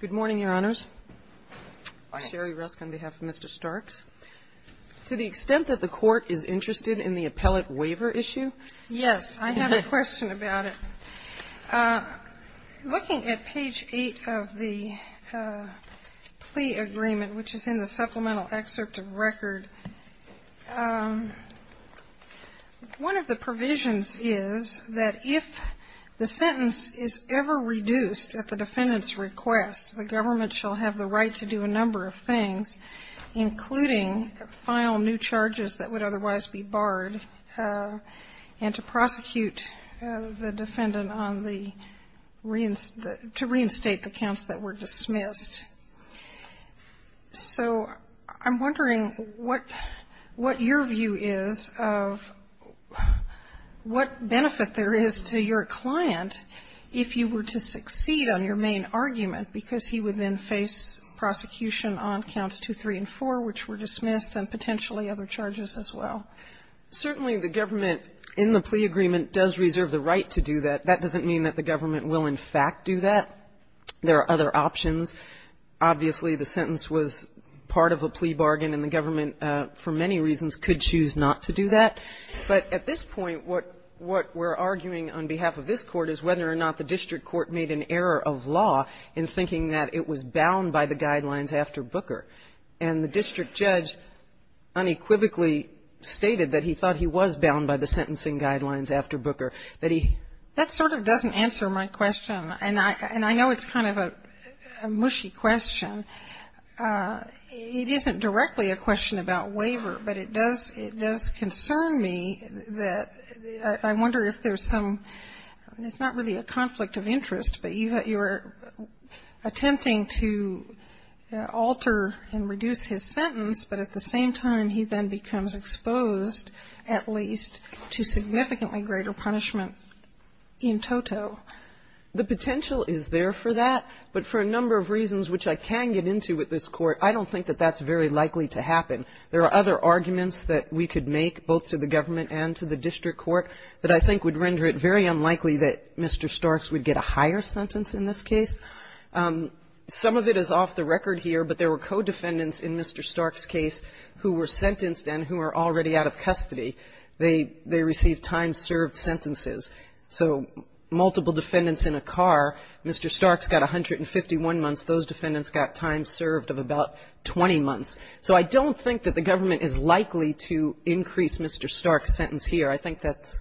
Good morning, Your Honors. I'm Sherry Rusk on behalf of Mr. Starks. To the extent that the Court is interested in the appellate waiver issue? Yes. I have a question about it. Looking at page 8 of the plea agreement, which is in the supplemental excerpt of record, one of the provisions is that if the sentence is ever reduced at the defendant's request, the government shall have the right to do a number of things, including file new charges that would otherwise be barred, and to prosecute the defendant on the reinstate the counts that were dismissed. So I'm wondering what your view is of what benefit there is to your client if you were to succeed on your main argument, because he would then face prosecution on counts 2, 3, and 4, which were dismissed, and potentially other charges as well. Certainly, the government in the plea agreement does reserve the right to do that. That doesn't mean that the government will, in fact, do that. There are other options. Obviously, the sentence was part of a plea bargain, and the government, for many reasons, could choose not to do that. But at this point, what we're arguing on behalf of this Court is whether or not the district court made an error of law in thinking that it was bound by the guidelines after Booker. And the district judge unequivocally stated that he thought he was bound by the sentencing guidelines after Booker. That he That sort of doesn't answer my question, and I know it's kind of a mushy question. It isn't directly a question about waiver, but it does concern me that I wonder if there's some – it's not really a conflict of interest, but you're attempting to alter and reduce his sentence, but at the same time, he then becomes exposed, at least, to significantly greater punishment in toto. The potential is there for that, but for a number of reasons which I can get into with this Court, I don't think that that's very likely to happen. There are other arguments that we could make, both to the government and to the district court, that I think would render it very unlikely that Mr. Starks would get a higher sentence in this case. Some of it is off the record here, but there were co-defendants in Mr. Starks' case who were sentenced and who are already out of custody. They received time-served sentences. So multiple defendants in a car, Mr. Starks got 151 months. Those defendants got time served of about 20 months. So I don't think that the government is likely to increase Mr. Starks' sentence here. I think that's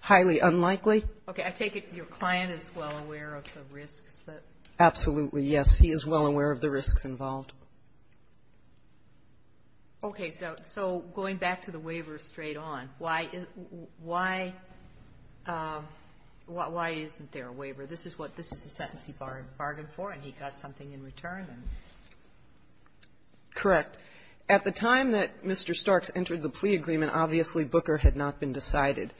highly unlikely. Okay. I take it your client is well aware of the risks, but — Absolutely, yes. He is well aware of the risks involved. Okay. So going back to the waiver straight on, why isn't there a waiver? This is what — this is the sentence he bargained for, and he got something in return. Correct. At the time that Mr. Starks entered the plea agreement, obviously, Booker had not been decided.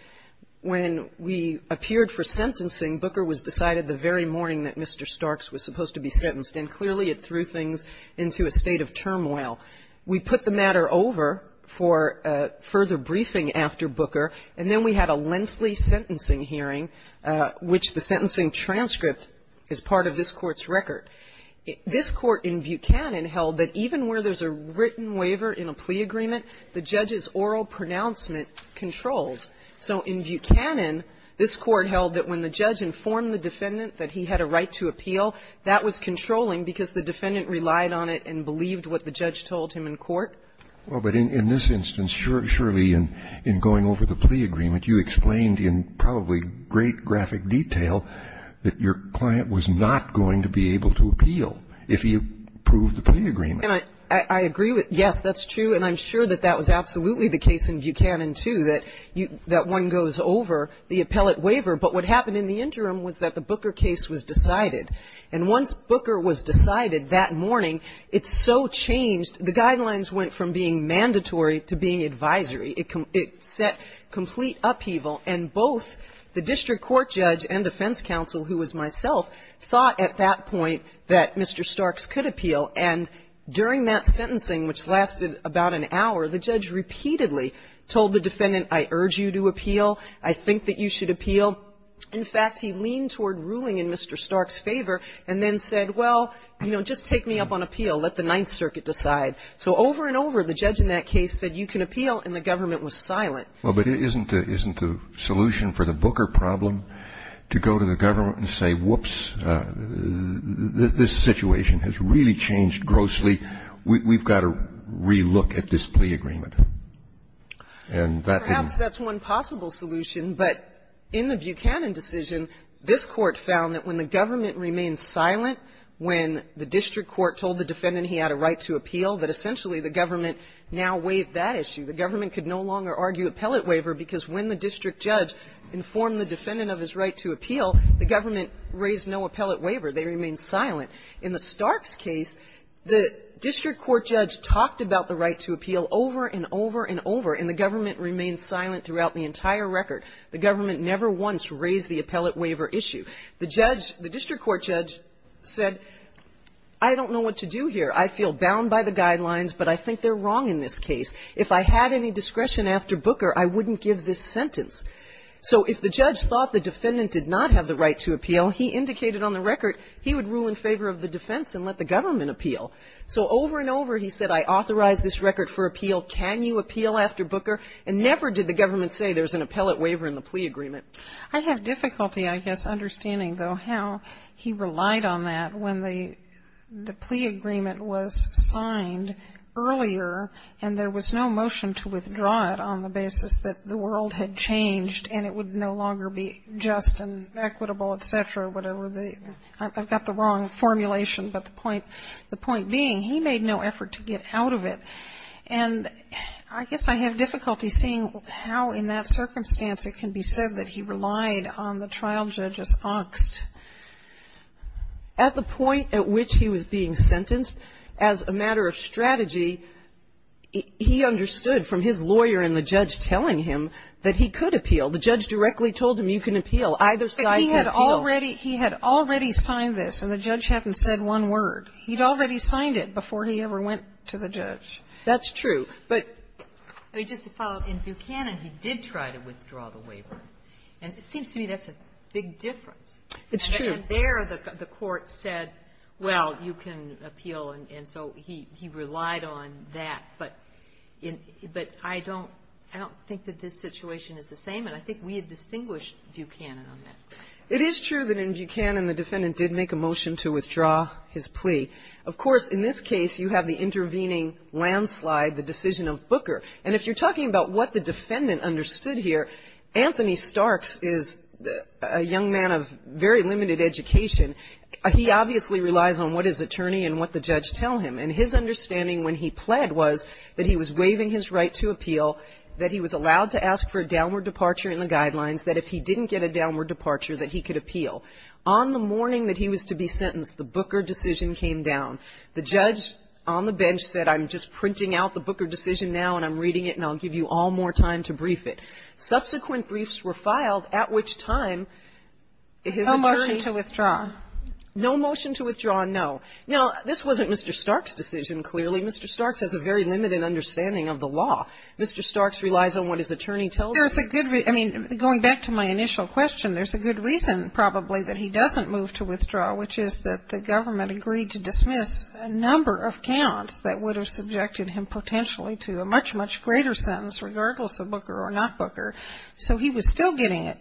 When we appeared for sentencing, Booker was decided the very morning that Mr. Starks was supposed to be sentenced, and clearly, it threw things into a state of turmoil. We put the matter over for further briefing after Booker, and then we had a lengthy sentencing hearing, which the sentencing transcript is part of this Court's record. This Court in Buchanan held that even where there's a written waiver in a plea agreement, the judge's oral pronouncement controls. So in Buchanan, this Court held that when the judge informed the defendant that he had a right to appeal, that was controlling because the defendant relied on it and believed what the judge told him in court. Well, but in this instance, surely, in going over the plea agreement, you explained in probably great graphic detail that your client was not going to be able to appeal if he approved the plea agreement. And I agree with — yes, that's true, and I'm sure that that was absolutely the case in Buchanan, too, that one goes over the appellate waiver. But what happened in the interim was that the Booker case was decided. And once Booker was decided that morning, it so changed. The guidelines went from being mandatory to being advisory. It set complete upheaval, and both the district court judge and defense counsel, who was myself, thought at that point that Mr. Starks could appeal. And during that sentencing, which lasted about an hour, the judge repeatedly told the defendant, I urge you to appeal, I think that you should appeal. In fact, he leaned toward ruling in Mr. Starks' favor and then said, well, you know, just take me up on appeal, let the Ninth Circuit decide. So over and over, the judge in that case said, you can appeal, and the government was silent. Well, but isn't the solution for the Booker problem to go to the government and say, whoops, this situation has really changed grossly, we've got to relook at this plea agreement? And that didn't — In the Buchanan decision, this Court found that when the government remained silent, when the district court told the defendant he had a right to appeal, that essentially the government now waived that issue. The government could no longer argue appellate waiver because when the district judge informed the defendant of his right to appeal, the government raised no appellate waiver. They remained silent. In the Starks case, the district court judge talked about the right to appeal over and over and over, and the government remained silent throughout the entire record. The government never once raised the appellate waiver issue. The judge — the district court judge said, I don't know what to do here. I feel bound by the guidelines, but I think they're wrong in this case. If I had any discretion after Booker, I wouldn't give this sentence. So if the judge thought the defendant did not have the right to appeal, he indicated on the record he would rule in favor of the defense and let the government appeal. So over and over, he said, I authorize this record for appeal. Can you appeal after Booker? And never did the government say there's an appellate waiver in the plea agreement. I have difficulty, I guess, understanding, though, how he relied on that when the plea agreement was signed earlier and there was no motion to withdraw it on the basis that the world had changed and it would no longer be just and equitable, et cetera, whatever the — I've got the wrong formulation, but the point being, he made no effort to get out of it. And I guess I have difficulty seeing how in that circumstance it can be said that he relied on the trial judge's auxed. At the point at which he was being sentenced, as a matter of strategy, he understood from his lawyer and the judge telling him that he could appeal. The judge directly told him, you can appeal. Either side can appeal. But he had already — he had already signed this, and the judge hadn't said one word. He'd already signed it before he ever went to the judge. That's true. But — I mean, just to follow up, in Buchanan, he did try to withdraw the waiver. And it seems to me that's a big difference. It's true. And there the court said, well, you can appeal, and so he relied on that. But in — but I don't — I don't think that this situation is the same, and I think we had distinguished Buchanan on that. It is true that in Buchanan the defendant did make a motion to withdraw his plea. Of course, in this case, you have the intervening landslide, the decision of Booker. And if you're talking about what the defendant understood here, Anthony Starks is a young man of very limited education. He obviously relies on what his attorney and what the judge tell him. And his understanding when he pled was that he was waiving his right to appeal, that he was allowed to ask for a downward departure in the guidelines, that if he didn't get a downward departure that he could appeal. On the morning that he was to be sentenced, the Booker decision came down. The judge on the bench said, I'm just printing out the Booker decision now, and I'm reading it, and I'll give you all more time to brief it. Subsequent briefs were filed, at which time his attorney — No motion to withdraw. No motion to withdraw, no. Now, this wasn't Mr. Starks' decision, clearly. Mr. Starks has a very limited understanding of the law. Mr. Starks relies on what his attorney tells him. Well, there's a good — I mean, going back to my initial question, there's a good reason, probably, that he doesn't move to withdraw, which is that the government agreed to dismiss a number of counts that would have subjected him potentially to a much, much greater sentence, regardless of Booker or not Booker. So he was still getting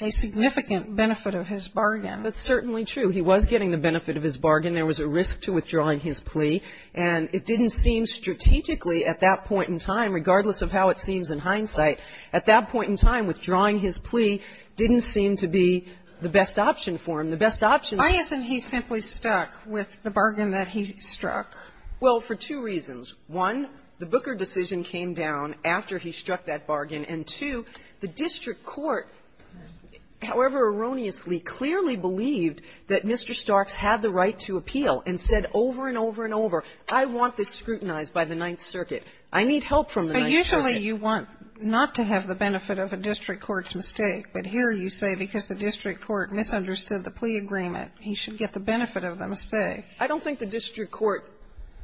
a significant benefit of his bargain. That's certainly true. He was getting the benefit of his bargain. There was a risk to withdrawing his plea. And it didn't seem strategically at that point in time, regardless of how it seems in hindsight, at that point in time, withdrawing his plea didn't seem to be the best option for him. The best option — Why isn't he simply stuck with the bargain that he struck? Well, for two reasons. One, the Booker decision came down after he struck that bargain. And, two, the district court, however erroneously, clearly believed that Mr. Starks had the right to appeal and said over and over and over, I want this scrutinized by the Ninth Circuit. I need help from the Ninth Circuit. But usually you want not to have the benefit of a district court's mistake. But here you say because the district court misunderstood the plea agreement, he should get the benefit of the mistake. I don't think the district court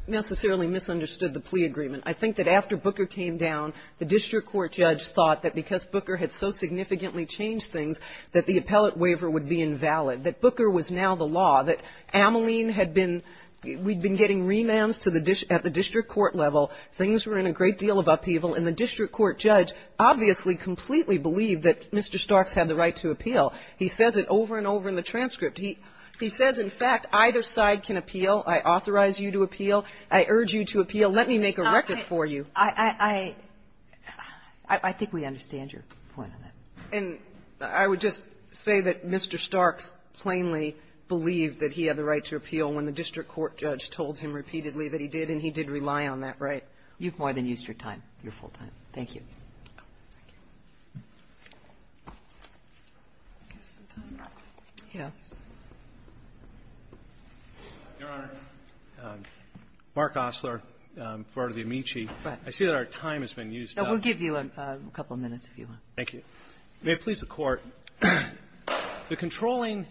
necessarily misunderstood the plea agreement. I think that after Booker came down, the district court judge thought that because Booker had so significantly changed things that the appellate waiver would be invalid, that Booker was now the law, that Ameline had been — we'd been getting remands to the — at the district court level, things were in a great deal of upheaval. And the district court judge obviously completely believed that Mr. Starks had the right to appeal. He says it over and over in the transcript. He — he says, in fact, either side can appeal. I authorize you to appeal. I urge you to appeal. Let me make a record for you. I — I think we understand your point on that. And I would just say that Mr. Starks plainly believed that he had the right to appeal when the district court judge told him repeatedly that he did, and he did rely on that right. You've more than used your time, your full time. Thank you. Thank you. Yes. Your Honor, Mark Osler, Florida v. Amici. Go ahead. I see that our time has been used up. We'll give you a couple of minutes if you want. Thank you. May it please the Court, the controlling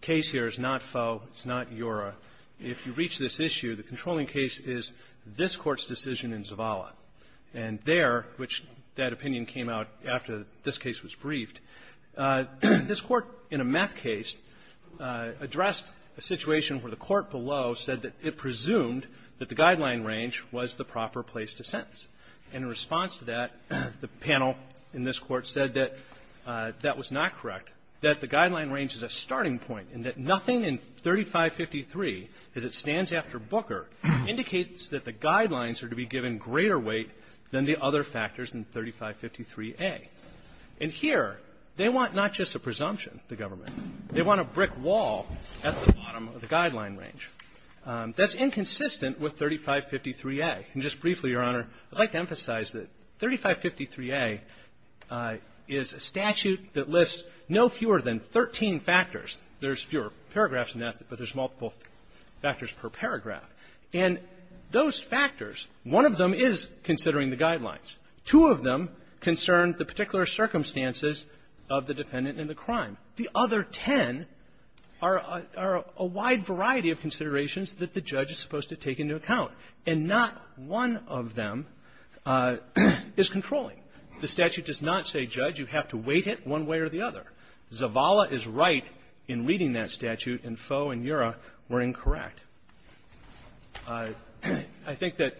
case here is not Foe, it's not Eura. If you reach this issue, the controlling case is this Court's decision in Zavala. And there, which that opinion came out after this case was briefed, this Court, in a meth case, addressed a situation where the court below said that it presumed that the guideline range was the proper place to sentence. And in response to that, the panel in this Court said that that was not correct, that the guideline range is a starting point, and that nothing in 3553, as it stands after Booker, indicates that the guidelines are to be given greater weight than the other factors in 3553A. And here, they want not just a presumption, the government. They want a brick wall at the bottom of the guideline range. That's inconsistent with 3553A. And just briefly, Your Honor, I'd like to emphasize that 3553A is a statute that lists no fewer than 13 factors. There's fewer paragraphs in that, but there's multiple factors per paragraph. And those factors, one of them is considering the guidelines. Two of them concern the particular circumstances of the defendant in the crime. The other ten are a wide variety of considerations that the judge is supposed to take into account. And not one of them is controlling. The statute does not say, hit one way or the other. Zavala is right in reading that statute, and Foe and Ura were incorrect. I think that,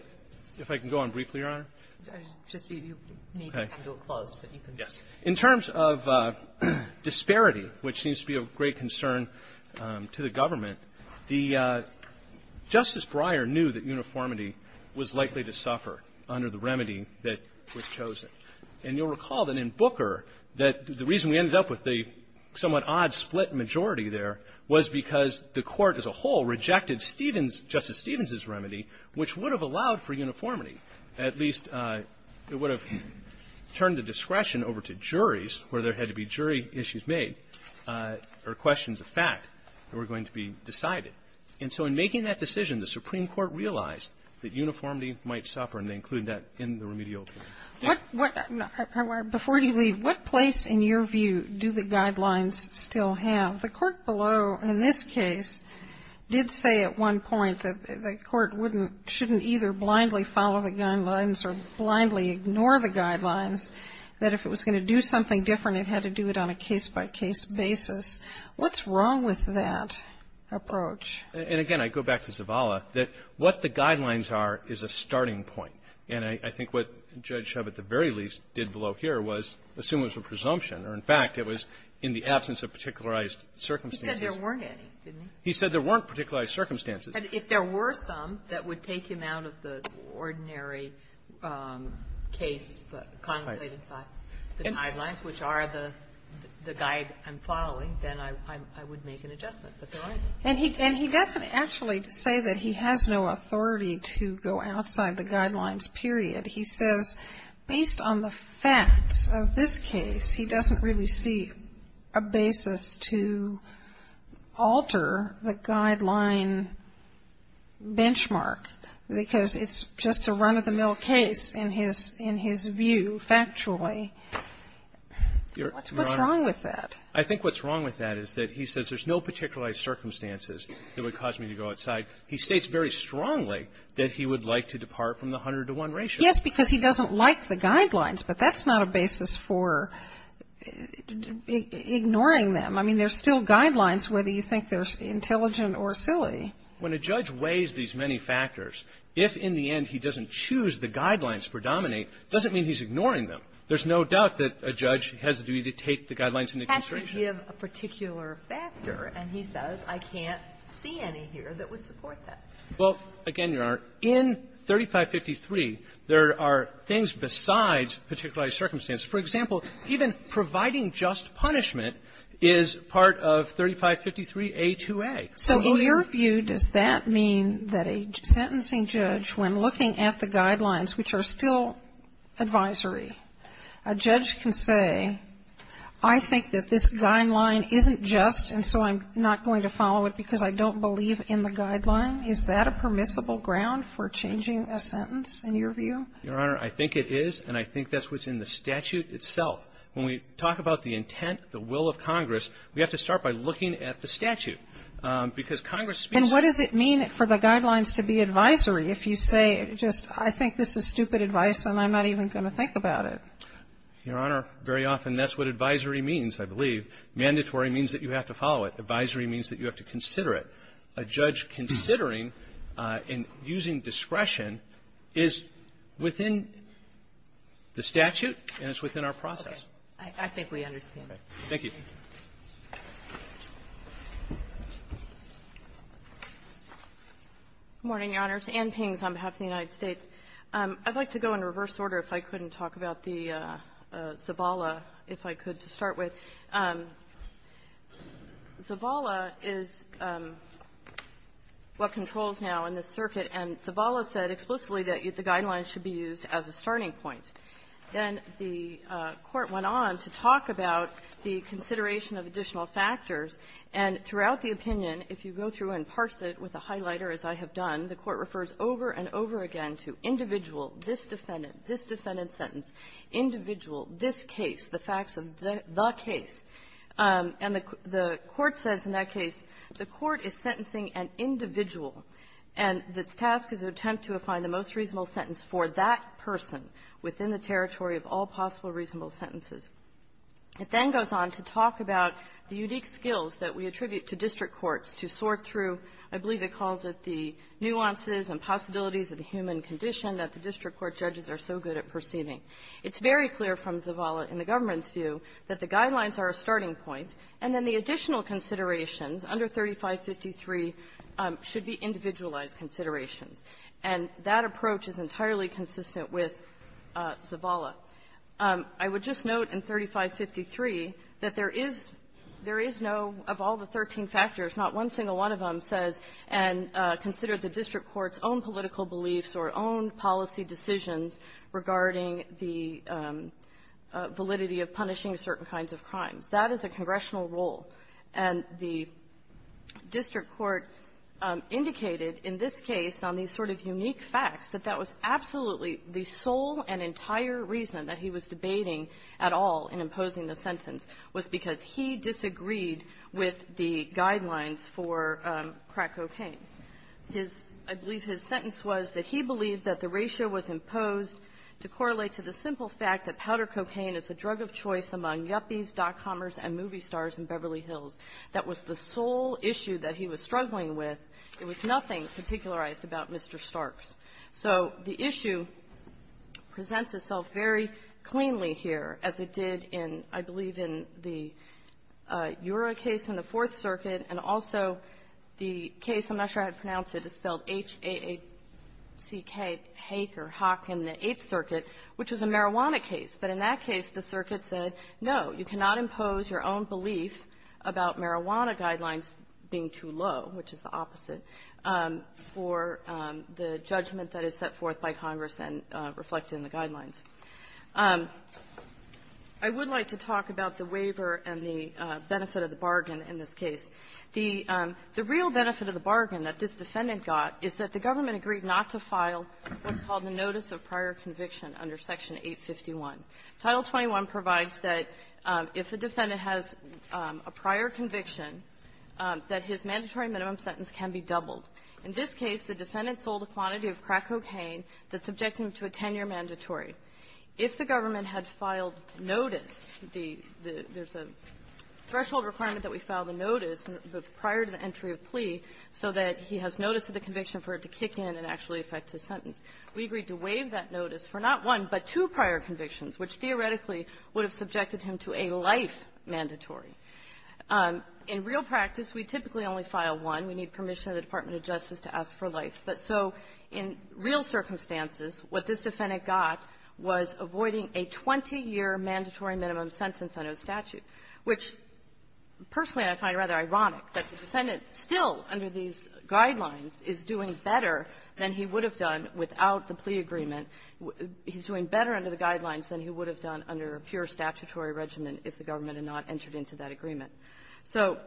if I can go on briefly, Your Honor? I just need you to come to a close, but you can just go on. Okay. Yes. In terms of disparity, which seems to be of great concern to the government, Justice Breyer knew that uniformity was likely to suffer under the remedy that was chosen. And you'll recall that in Booker that the reason we ended up with the somewhat odd split majority there was because the Court as a whole rejected Stevens, Justice Stevens's remedy, which would have allowed for uniformity. At least it would have turned the discretion over to juries where there had to be jury issues made or questions of fact that were going to be decided. And so in making that decision, the Supreme Court realized that uniformity might suffer, and they included that in the remedial case. Before you leave, what place, in your view, do the guidelines still have? The court below, in this case, did say at one point that the court wouldn't, shouldn't either blindly follow the guidelines or blindly ignore the guidelines, that if it was going to do something different, it had to do it on a case-by-case basis. What's wrong with that approach? And again, I go back to Zavala, that what the guidelines are is a starting point. And I think what Judge Shub at the very least did below here was assume it was a presumption, or, in fact, it was in the absence of particularized circumstances. He said there weren't any, didn't he? He said there weren't particularized circumstances. And if there were some that would take him out of the ordinary case, the contemplated fact, the guidelines, which are the guide I'm following, then I would make an adjustment. But there aren't. And he doesn't actually say that he has no authority to go outside the guidelines, period. He says, based on the facts of this case, he doesn't really see a basis to alter the guideline benchmark, because it's just a run-of-the-mill case in his view, factually. What's wrong with that? I think what's wrong with that is that he says there's no particularized circumstances that would cause me to go outside. He states very strongly that he would like to depart from the 100-to-1 ratio. Yes, because he doesn't like the guidelines. But that's not a basis for ignoring them. I mean, there's still guidelines, whether you think they're intelligent or silly. When a judge weighs these many factors, if in the end he doesn't choose the guidelines to predominate, it doesn't mean he's ignoring them. There's no doubt that a judge has a duty to take the guidelines into consideration. Has to give a particular factor. And he says, I can't see any here that would support that. Well, again, Your Honor, in 3553, there are things besides particularized circumstances. For example, even providing just punishment is part of 3553a2a. So in your view, does that mean that a sentencing judge, when looking at the guidelines, which are still advisory, a judge can say, I think that this guideline isn't just, and so I'm not going to follow it because I don't believe in the guideline? Is that a permissible ground for changing a sentence, in your view? Your Honor, I think it is, and I think that's what's in the statute itself. When we talk about the intent, the will of Congress, we have to start by looking at the statute. Because Congress speaks to the statute. If you say, just, I think this is stupid advice, and I'm not even going to think about it. Your Honor, very often that's what advisory means, I believe. Mandatory means that you have to follow it. Advisory means that you have to consider it. A judge considering and using discretion is within the statute, and it's within our process. I think we understand. Thank you. Good morning, Your Honors. Ann Pings on behalf of the United States. I'd like to go in reverse order, if I couldn't, talk about the Zavala, if I could, to start with. Zavala is what controls now in this circuit, and Zavala said explicitly that the guidelines should be used as a starting point. Then the Court went on to talk about the consideration of additional factors. And throughout the opinion, if you go through and parse it with a highlighter, as I have done, the Court refers over and over again to individual, this defendant, this defendant sentence, individual, this case, the facts of the case. And the Court says in that case, the Court is sentencing an individual, and its task is an attempt to find the most reasonable sentence for that person within the territory of all possible reasonable sentences. It then goes on to talk about the unique skills that we attribute to district courts to sort through, I believe it calls it, the nuances and possibilities of the human condition that the district court judges are so good at perceiving. It's very clear from Zavala in the government's view that the guidelines are a starting point, and then the additional considerations under 3553 should be individualized considerations. And that approach is entirely consistent with Zavala. I would just note in 3553 that there is no, of all the 13 factors, not one single one of them says and considered the district court's own political beliefs or own policy decisions regarding the validity of punishing certain kinds of crimes. That is a congressional role. And the district court indicated in this case on these sort of unique facts that that was absolutely the sole and entire reason that he was debating at all in imposing the sentence was because he disagreed with the guidelines for crack cocaine. His – I believe his sentence was that he believed that the ratio was imposed to correlate to the simple fact that powder cocaine is the drug of choice among yuppies, dot-commers, and movie stars in Beverly Hills. That was the sole issue that he was struggling with. It was nothing particularized about Mr. Starks. So the issue presents itself very cleanly here as it did in, I believe, in the Eurora case in the Fourth Circuit and also the case, I'm not sure how to pronounce it, it's spelled H-A-A-C-K, Haak or Haak, in the Eighth Circuit, which was a marijuana case. But in that case, the circuit said, no, you cannot impose your own belief about marijuana guidelines being too low, which is the opposite, for the judgment that is set forth by Congress and reflected in the guidelines. I would like to talk about the waiver and the benefit of the bargain in this case. The real benefit of the bargain that this defendant got is that the government agreed not to file what's called the notice of prior conviction under Section 851. Title 21 provides that if the defendant has a prior conviction, that his mandatory minimum sentence can be doubled. In this case, the defendant sold a quantity of crack cocaine that subject him to a 10-year mandatory. If the government had filed notice, the – there's a threshold requirement that we file the notice prior to the entry of plea so that he has notice of the conviction for it to kick in and actually affect his sentence. We agreed to waive that notice for not one, but two prior convictions, which theoretically would have subjected him to a life mandatory. In real practice, we typically only file one. We need permission of the Department of Justice to ask for life. But so in real circumstances, what this defendant got was avoiding a 20-year mandatory minimum sentence under the statute, which, personally, I find rather ironic that the defendant still, under these guidelines, is doing better than he would have done without the plea agreement. He's doing better under the guidelines than he would have done under a pure statutory regimen if the government had not entered into that agreement. So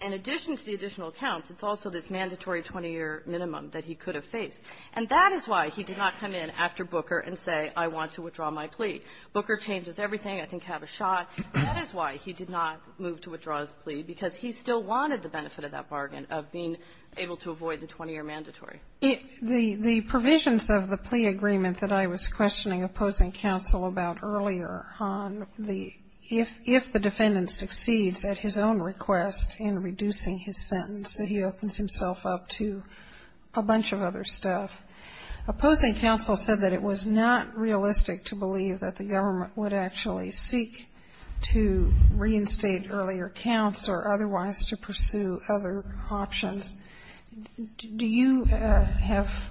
in addition to the additional counts, it's also this mandatory 20-year minimum that he could have faced. And that is why he did not come in after Booker and say, I want to withdraw my plea. Booker changes everything, I think have a shot. That is why he did not move to withdraw his plea, because he still wanted the benefit of that bargain, of being able to avoid the 20-year mandatory. The provisions of the plea agreement that I was questioning opposing counsel about earlier on the, if the defendant succeeds at his own request in reducing his sentence, that he opens himself up to a bunch of other stuff. Opposing counsel said that it was not realistic to believe that the government would actually seek to reinstate earlier counts or otherwise to pursue other options. Do you have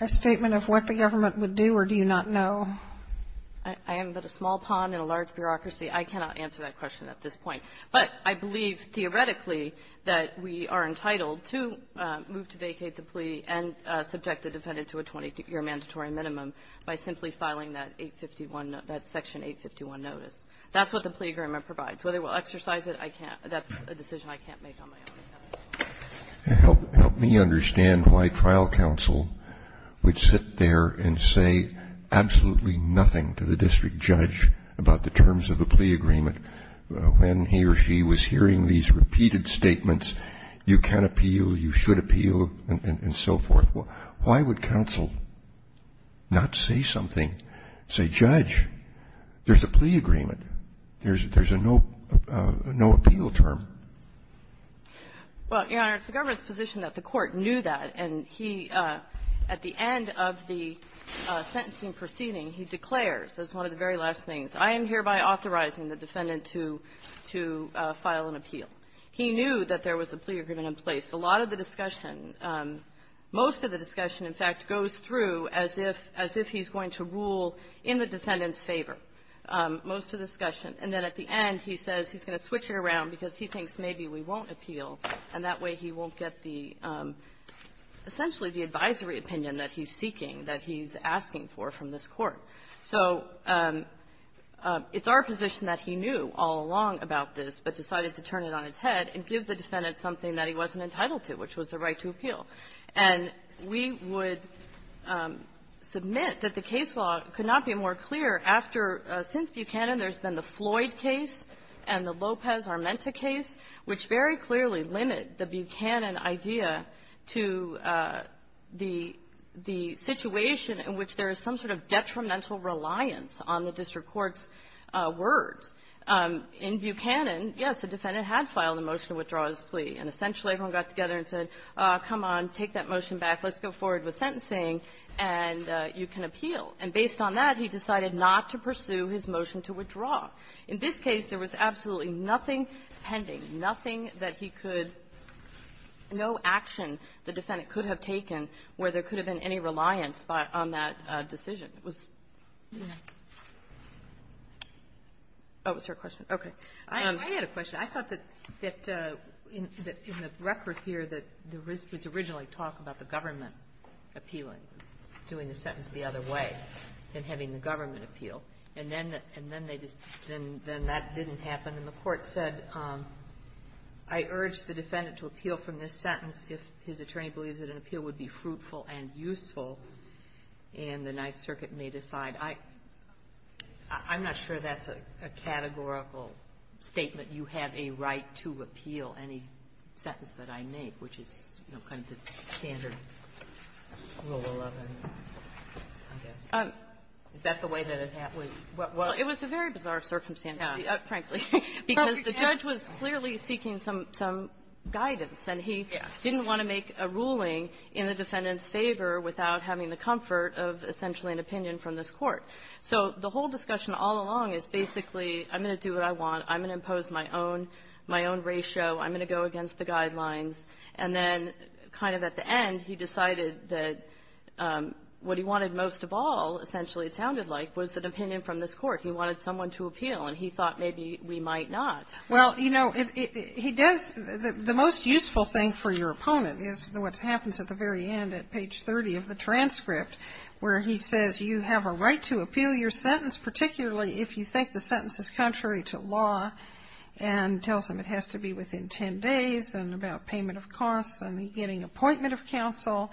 a statement of what the government would do, or do you not know? I am but a small pawn in a large bureaucracy. I cannot answer that question at this point. But I believe, theoretically, that we are entitled to move to vacate the plea and subject the defendant to a 20-year mandatory minimum by simply filing that 851, that Section 851 notice. That's what the plea agreement provides. Whether we will exercise it, I can't. That's a decision I can't make on my own account. Help me understand why trial counsel would sit there and say absolutely nothing to the district judge about the terms of the plea agreement when he or she was hearing these repeated statements, you can appeal, you should appeal, and so forth. Why would counsel not say something, say, Judge, there's a plea agreement. There's a no-appeal term. Well, Your Honor, it's the government's position that the Court knew that, and he, at the end of the sentencing proceeding, he declares as one of the very last things, I am hereby authorizing the defendant to file an appeal. He knew that there was a plea agreement in place. A lot of the discussion, most of the discussion, in fact, goes through as if he's going to rule in the defendant's favor, most of the discussion. And then at the end, he says he's going to switch it around because he thinks maybe we won't appeal, and that way he won't get the, essentially, the advisory opinion that he's seeking, that he's asking for from this Court. So it's our position that he knew all along about this, but decided to turn it on its head and give the defendant something that he wasn't entitled to, which was the right to appeal. And we would submit that the case law could not be more clear after, since Buchanan, there's been the Floyd case and the Lopez-Armenta case, which very clearly limit the Buchanan idea to the situation in which there is some sort of detrimental reliance on the district court's words. In Buchanan, yes, the defendant had filed a motion to withdraw his plea, and essentially, everyone got together and said, come on, take that motion back, let's go forward with sentencing, and you can appeal. And based on that, he decided not to pursue his motion to withdraw. In this case, there was absolutely nothing pending, nothing that he could no action the defendant could have taken where there could have been any reliance on that decision. It was her question? Okay. I had a question. I thought that in the record here, that there was originally talk about the government appealing, doing the sentence the other way, and having the government appeal. And then they just didn't, then that didn't happen. And the Court said, I urge the defendant to appeal from this sentence if his attorney believes that an appeal would be fruitful and useful, and the Ninth Circuit may decide. I'm not sure that's a categorical statement. You have a right to appeal any sentence that I make, which is, you know, kind of the standard rule of 11, I guess. Is that the way that it happened? Well, it was a very bizarre circumstance, frankly, because the judge was clearly seeking some guidance, and he didn't want to make a ruling in the defendant's favor without having the comfort of essentially an opinion from this Court. So the whole discussion all along is basically, I'm going to do what I want. I'm going to impose my own, my own ratio. I'm going to go against the guidelines. And then kind of at the end, he decided that what he wanted most of all, essentially it sounded like, was an opinion from this Court. He wanted someone to appeal, and he thought maybe we might not. Well, you know, he does the most useful thing for your opponent is what happens at the very end at page 30 of the transcript, where he says you have a right to appeal your sentence, particularly if you think the sentence is contrary to law, and tells him it has to be within 10 days, and about payment of costs, and getting appointment of counsel.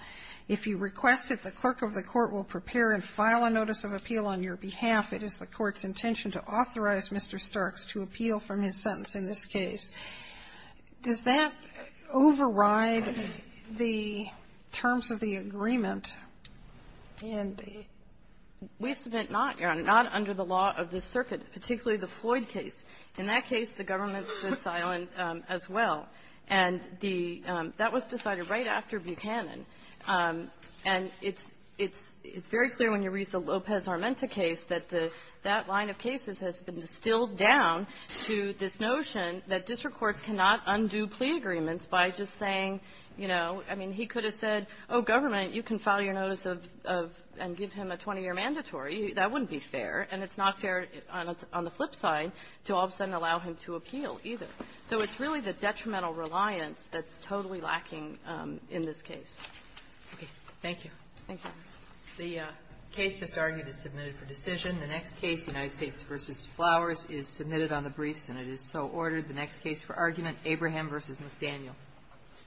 If you request it, the clerk of the Court will prepare and file a notice of appeal on your behalf. It is the Court's intention to authorize Mr. Starks to appeal from his sentence in this case. Does that override the terms of the agreement? And we've spent not under the law of the circuit, particularly the Floyd case. In that case, the government stood silent as well. And the that was decided right after Buchanan. And it's very clear when you read the Lopez-Armenta case that that line of cases has been distilled down to this notion that district courts cannot undo plea agreements by just saying, you know, I mean, he could have said, oh, government, you can file your notice of and give him a 20-year mandatory. That wouldn't be fair. And it's not fair on the flip side to all of a sudden allow him to appeal either. So it's really the detrimental reliance that's totally lacking in this case. Okay. Thank you. Thank you. The case just argued is submitted for decision. The next case, United States v. Flowers, is submitted on the briefs, and it is so ordered. The next case for argument, Abraham v. McDaniel.